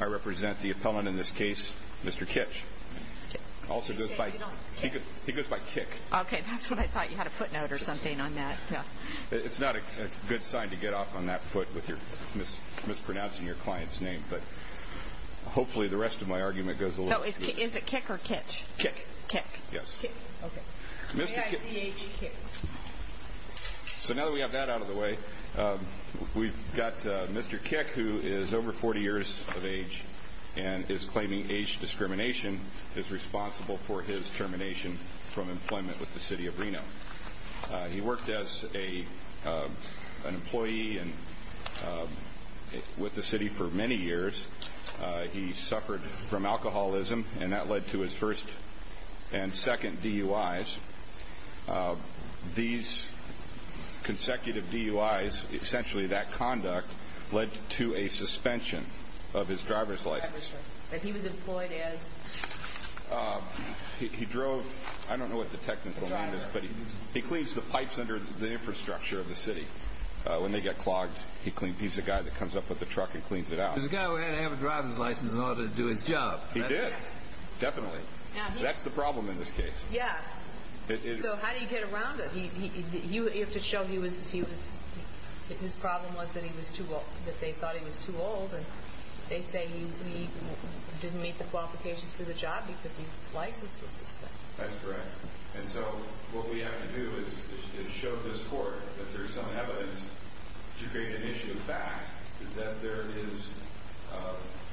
I represent the appellant in this case, Mr. Kich, also goes by, he goes by Kik. Okay, that's what I thought, you had a footnote or something on that, yeah. It's not a good sign to get off on that foot with your, mispronouncing your client's name, but hopefully the rest of my argument goes a little smoother. Is it Kik or Kich? Kik. Kik. Kik, okay. So now that we have that out of the way, we've got Mr. Kich, who is over 40 years of age and is claiming age discrimination is responsible for his termination from employment with the city of Reno. He worked as an employee with the city for many years, he suffered from alcoholism and that led to his first and second DUIs. These consecutive DUIs, essentially that conduct, led to a suspension of his driver's license. That he was employed as? He drove, I don't know what the technical name is, but he cleans the pipes under the infrastructure of the city. When they get clogged, he's the guy that comes up with the truck and cleans it out. He's the guy who had to have a driver's license in order to do his job. He did. Definitely. That's the problem in this case. Yeah. So how did he get around it? You have to show he was, his problem was that he was too old, that they thought he was too old and they say he didn't meet the qualifications for the job because his license was suspended. That's correct. And so what we have to do is show this court that there is some evidence to create an issue of fact, that there is,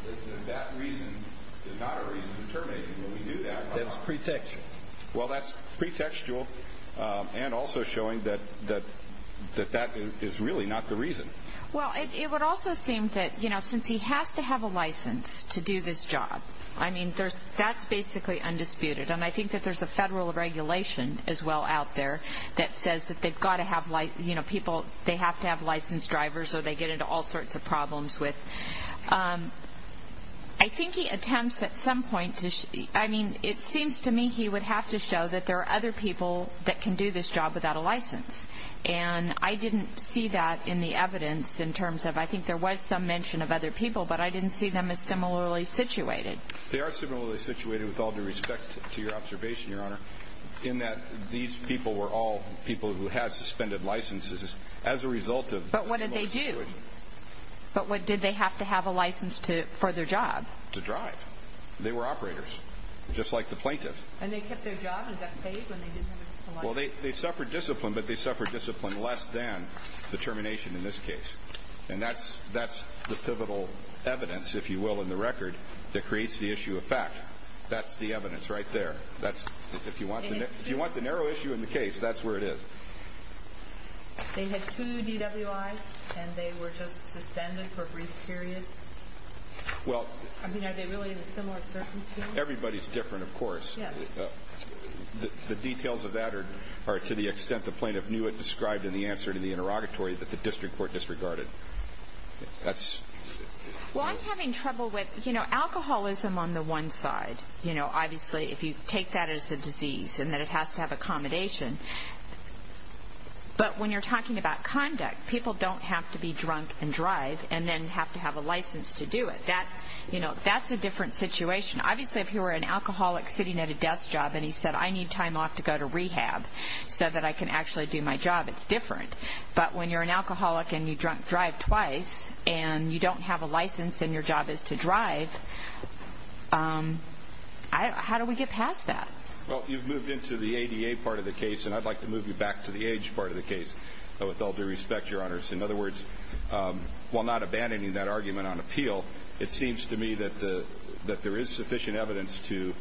that that reason is not a reason to terminate him when we do that. That's pre-textual. Well, that's pre-textual and also showing that that is really not the reason. Well, it would also seem that, you know, since he has to have a license to do this job, I mean, that's basically undisputed and I think that there's a federal regulation as well out there that says that they've got to have, you know, people, they have to have licensed drivers or they get into all sorts of problems with, um, I think he attempts at some point to, I mean, it seems to me he would have to show that there are other people that can do this job without a license. And I didn't see that in the evidence in terms of, I think there was some mention of other people, but I didn't see them as similarly situated. They are similarly situated with all due respect to your observation, your honor, in that these people were all people who had suspended licenses as a result of. But what did they do? But what did they have to have a license to, for their job? To drive. They were operators, just like the plaintiff. And they kept their job and got paid when they didn't have a license? Well, they, they suffered discipline, but they suffered discipline less than the termination in this case. And that's, that's the pivotal evidence, if you will, in the record that creates the issue of fact. That's the evidence right there. That's if you want, if you want the narrow issue in the case, that's where it is. They had two DWIs and they were just suspended for a brief period? Well. I mean, are they really in a similar circumstance? Everybody's different, of course. Yes. The, the details of that are, are to the extent the plaintiff knew it described in the answer to the interrogatory that the district court disregarded. That's. Well, I'm having trouble with, you know, alcoholism on the one side. You know, obviously if you take that as a disease and that it has to have accommodation. But when you're talking about conduct, people don't have to be drunk and drive and then have to have a license to do it. That, you know, that's a different situation. Obviously, if you were an alcoholic sitting at a desk job and he said, I need time off to go to rehab so that I can actually do my job, it's different. But when you're an alcoholic and you drunk drive twice and you don't have a license and your job is to drive, I, how do we get past that? Well, you've moved into the ADA part of the case and I'd like to move you back to the age part of the case. With all due respect, your honors, in other words, while not abandoning that argument on appeal, it seems to me that the, that there is sufficient evidence to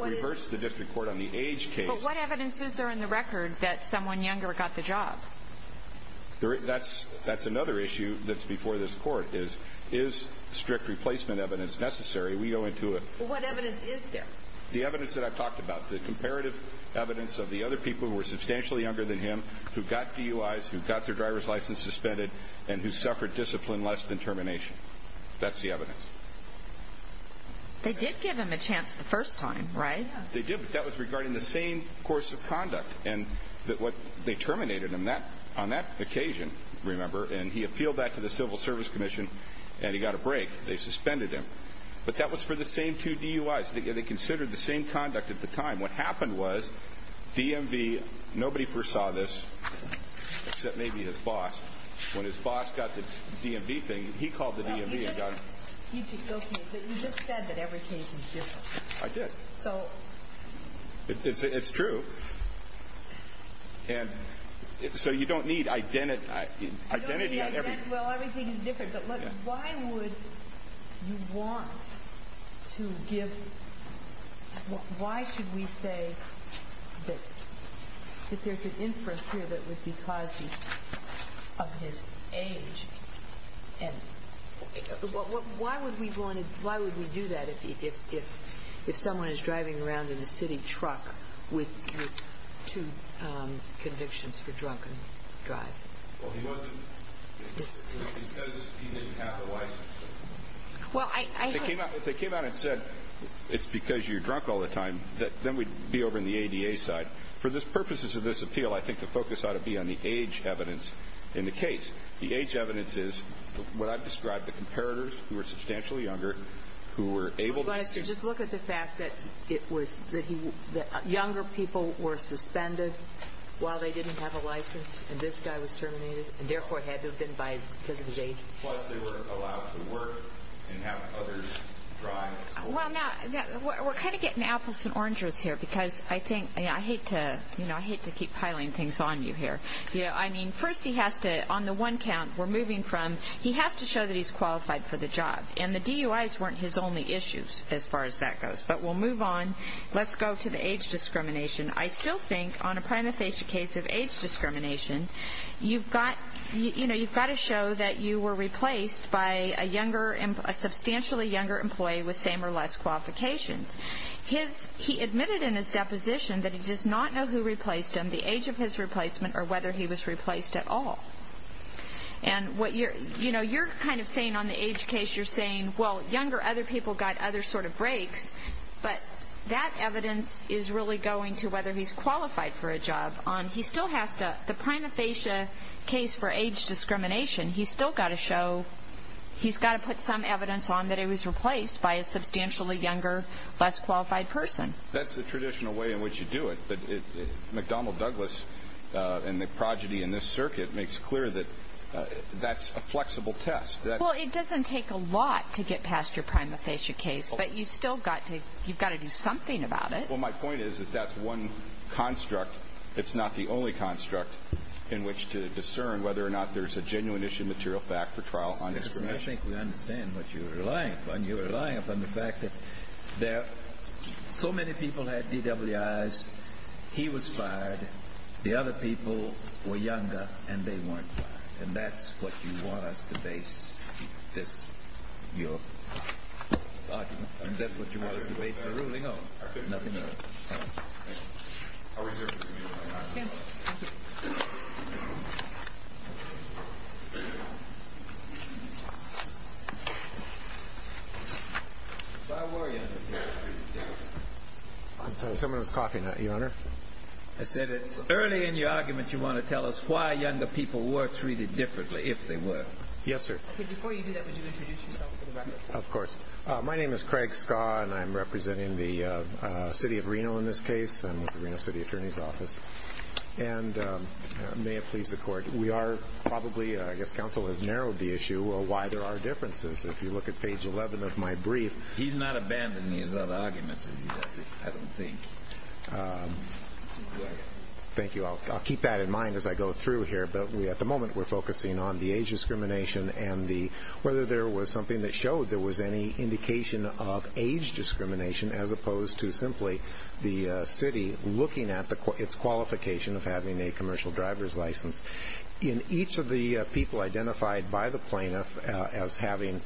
reverse the district court on the age case. But what evidence is there in the record that someone younger got the job? That's, that's another issue that's before this court is, is strict replacement evidence necessary? We go into it. What evidence is there? The evidence that I've talked about, the comparative evidence of the other people who were substantially younger than him, who got DUIs, who got their driver's license suspended, and who suffered discipline less than termination. That's the evidence. They did give him a chance the first time, right? They did, but that was regarding the same course of conduct. And what, they terminated him that, on that occasion, remember, and he appealed that to the Civil Service Commission and he got a break. They suspended him. But that was for the same two DUIs. They considered the same conduct at the time. What happened was, DMV, nobody foresaw this, except maybe his boss. When his boss got the DMV thing, he called the DMV and got it. You just said that every case is different. I did. So. It's, it's true. And, so you don't need identity, identity on everything. Well, everything is different. But why would you want to give, why should we say that there's an inference here that it was because of his age? And why would we do that if someone is driving around in a city truck with two convictions for drunken drive? Well, he wasn't. He said he didn't have a license. Well, I. If they came out and said, it's because you're drunk all the time, then we'd be over in the ADA side. For the purposes of this appeal, I think the focus ought to be on the age evidence in the case. The age evidence is what I've described, the comparators who were substantially younger, who were able to. Well, just look at the fact that it was, that he, that younger people were suspended while they didn't have a license, and this guy was terminated, and therefore had to have been because of his age. Plus, they weren't allowed to work and have others drive. Well, now, we're kind of getting apples and oranges here, because I think, I hate to, you know, I hate to keep piling things on you here. You know, I mean, first he has to, on the one count, we're moving from, he has to show that he's qualified for the job. And the DUIs weren't his only issues, as far as that goes. But we'll move on. Let's go to the age discrimination. I still think on a prima facie case of age discrimination, you've got, you know, you've got to show that you were replaced by a younger, a substantially younger employee with same or less qualifications. His, he admitted in his deposition that he does not know who replaced him, the age of his replacement, or whether he was replaced at all. And what you're, you know, you're kind of saying on the age case, you're saying, well, younger other people got other sort of breaks. But that evidence is really going to whether he's qualified for a job. He still has to, the prima facie case for age discrimination, he's still got to show, he's got to put some evidence on that he was replaced by a substantially younger, less qualified person. That's the traditional way in which you do it. But McDonnell Douglas and the progeny in this circuit makes clear that that's a flexible test. Well, it doesn't take a lot to get past your prima facie case. But you've still got to, you've got to do something about it. Well, my point is that that's one construct. It's not the only construct in which to discern whether or not there's a genuine issue material fact for trial on discrimination. I think we understand what you're relying upon. You're relying upon the fact that there, so many people had DWIs. He was fired. The other people were younger and they weren't fired. And that's what you want us to base this, your argument. And that's what you want us to base the ruling on. Nothing else. Thank you. I'll reserve it for you. Yes. Thank you. Why were younger people treated differently? I'm sorry. Someone was coughing. Your Honor. I said it's early in your argument you want to tell us why younger people were treated differently, if they were. Yes, sir. Before you do that, would you introduce yourself for the record? Of course. My name is Craig Skaw and I'm representing the city of Reno in this case. I'm with the Reno City Attorney's Office. And may it please the Court, we are probably, I guess counsel has narrowed the issue, why there are differences. If you look at page 11 of my brief. He's not abandoning his other arguments, I don't think. Thank you. I'll keep that in mind as I go through here. But at the moment we're focusing on the age discrimination and whether there was something that showed there was any indication of age discrimination, as opposed to simply the city looking at its qualification of having a commercial driver's license. In each of the people identified by the plaintiff as having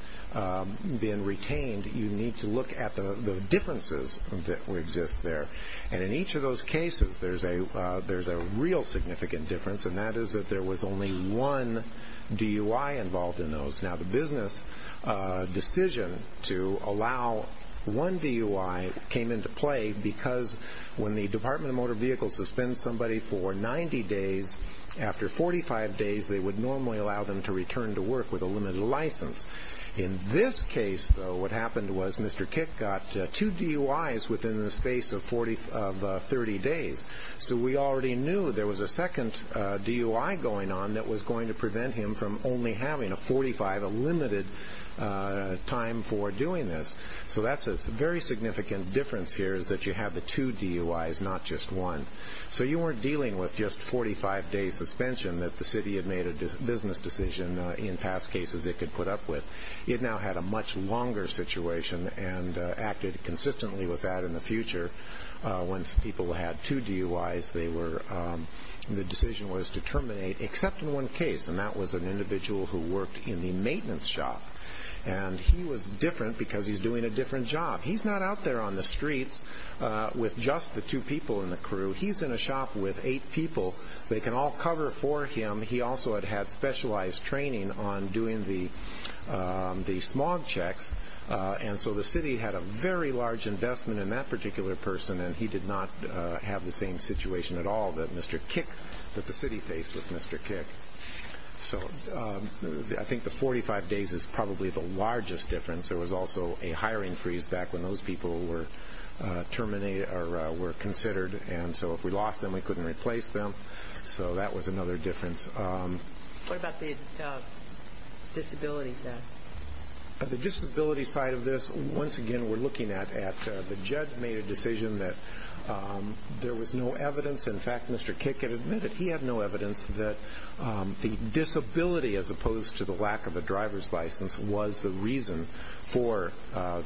been retained, you need to look at the differences that exist there. And in each of those cases there's a real significant difference, and that is that there was only one DUI involved in those. Now the business decision to allow one DUI came into play because when the Department of Motor Vehicles suspends somebody for 90 days, after 45 days they would normally allow them to return to work with a limited license. In this case, though, what happened was Mr. Kick got two DUIs within the space of 30 days. So we already knew there was a second DUI going on that was going to prevent him from only having a 45, a limited time for doing this. So that's a very significant difference here, is that you have the two DUIs, not just one. So you weren't dealing with just 45-day suspension that the city had made a business decision in past cases it could put up with. It now had a much longer situation and acted consistently with that in the future. Once people had two DUIs, the decision was to terminate, except in one case, and that was an individual who worked in the maintenance shop. And he was different because he's doing a different job. He's not out there on the streets with just the two people in the crew. He's in a shop with eight people. They can all cover for him. He also had had specialized training on doing the smog checks. And so the city had a very large investment in that particular person, and he did not have the same situation at all that Mr. Kick, that the city faced with Mr. Kick. So I think the 45 days is probably the largest difference. There was also a hiring freeze back when those people were terminated or were considered. And so if we lost them, we couldn't replace them. So that was another difference. What about the disability side? The disability side of this, once again, we're looking at the judge made a decision that there was no evidence. In fact, Mr. Kick admitted he had no evidence that the disability, as opposed to the lack of a driver's license, was the reason for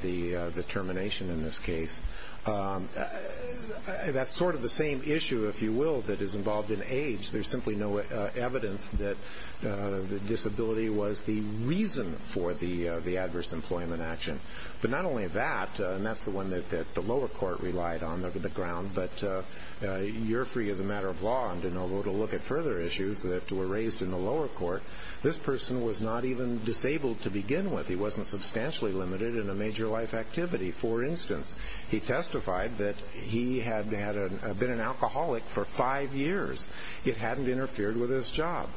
the termination in this case. That's sort of the same issue, if you will, that is involved in age. There's simply no evidence that the disability was the reason for the adverse employment action. But not only that, and that's the one that the lower court relied on, the ground, but you're free as a matter of law to look at further issues that were raised in the lower court. This person was not even disabled to begin with. He wasn't substantially limited in a major life activity. For instance, he testified that he had been an alcoholic for five years. It hadn't interfered with his job.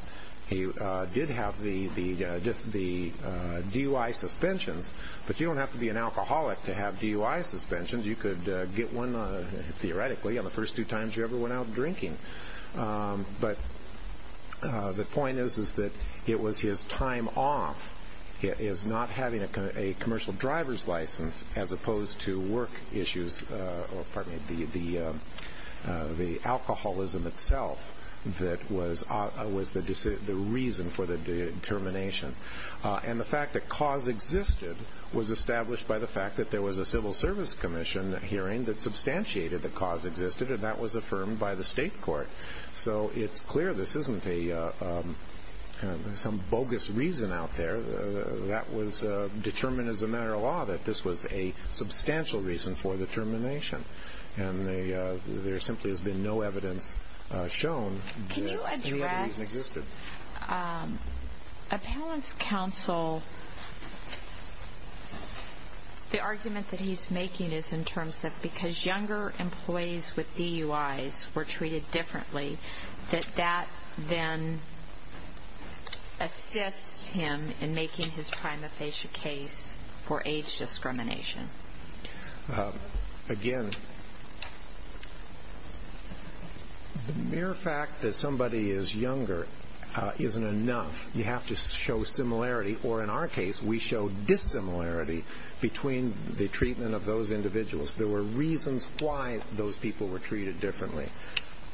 He did have the DUI suspensions, but you don't have to be an alcoholic to have DUI suspensions. You could get one, theoretically, on the first two times you ever went out drinking. But the point is that it was his time off, his not having a commercial driver's license, as opposed to work issues or, pardon me, the alcoholism itself that was the reason for the termination. And the fact that cause existed was established by the fact that there was a civil service commission hearing that substantiated that cause existed, and that was affirmed by the state court. So it's clear this isn't some bogus reason out there. That was determined as a matter of law that this was a substantial reason for the termination. And there simply has been no evidence shown that the reason existed. Appellant's counsel, the argument that he's making is in terms of because younger employees with DUIs were treated differently, that that then assists him in making his prima facie case for age discrimination. Again, the mere fact that somebody is younger isn't enough. You have to show similarity or, in our case, we show dissimilarity between the treatment of those individuals. There were reasons why those people were treated differently.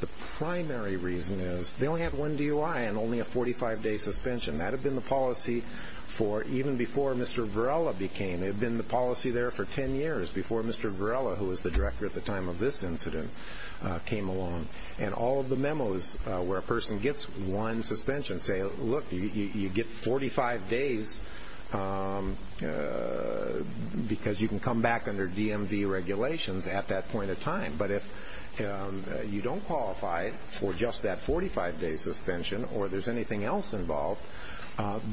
The primary reason is they only had one DUI and only a 45-day suspension. That had been the policy for even before Mr. Varela became. It had been the policy there for 10 years before Mr. Varela, who was the director at the time of this incident, came along. And all of the memos where a person gets one suspension say, look, you get 45 days because you can come back under DMV regulations at that point in time. But if you don't qualify for just that 45-day suspension or there's anything else involved,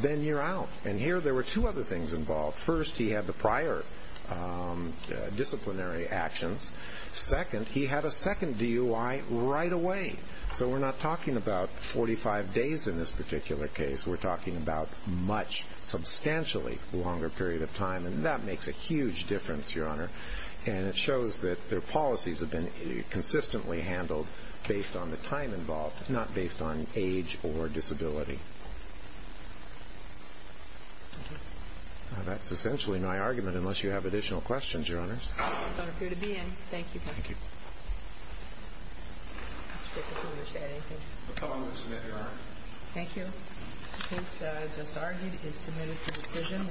then you're out. And here there were two other things involved. First, he had the prior disciplinary actions. Second, he had a second DUI right away. So we're not talking about 45 days in this particular case. We're talking about a much substantially longer period of time. And that makes a huge difference, Your Honor. And it shows that their policies have been consistently handled based on the time involved, not based on age or disability. That's essentially my argument, unless you have additional questions, Your Honors. I don't appear to be in. Thank you. Thank you. I don't wish to add anything. The comment is submitted, Your Honor. Thank you. The case just argued is submitted for decision.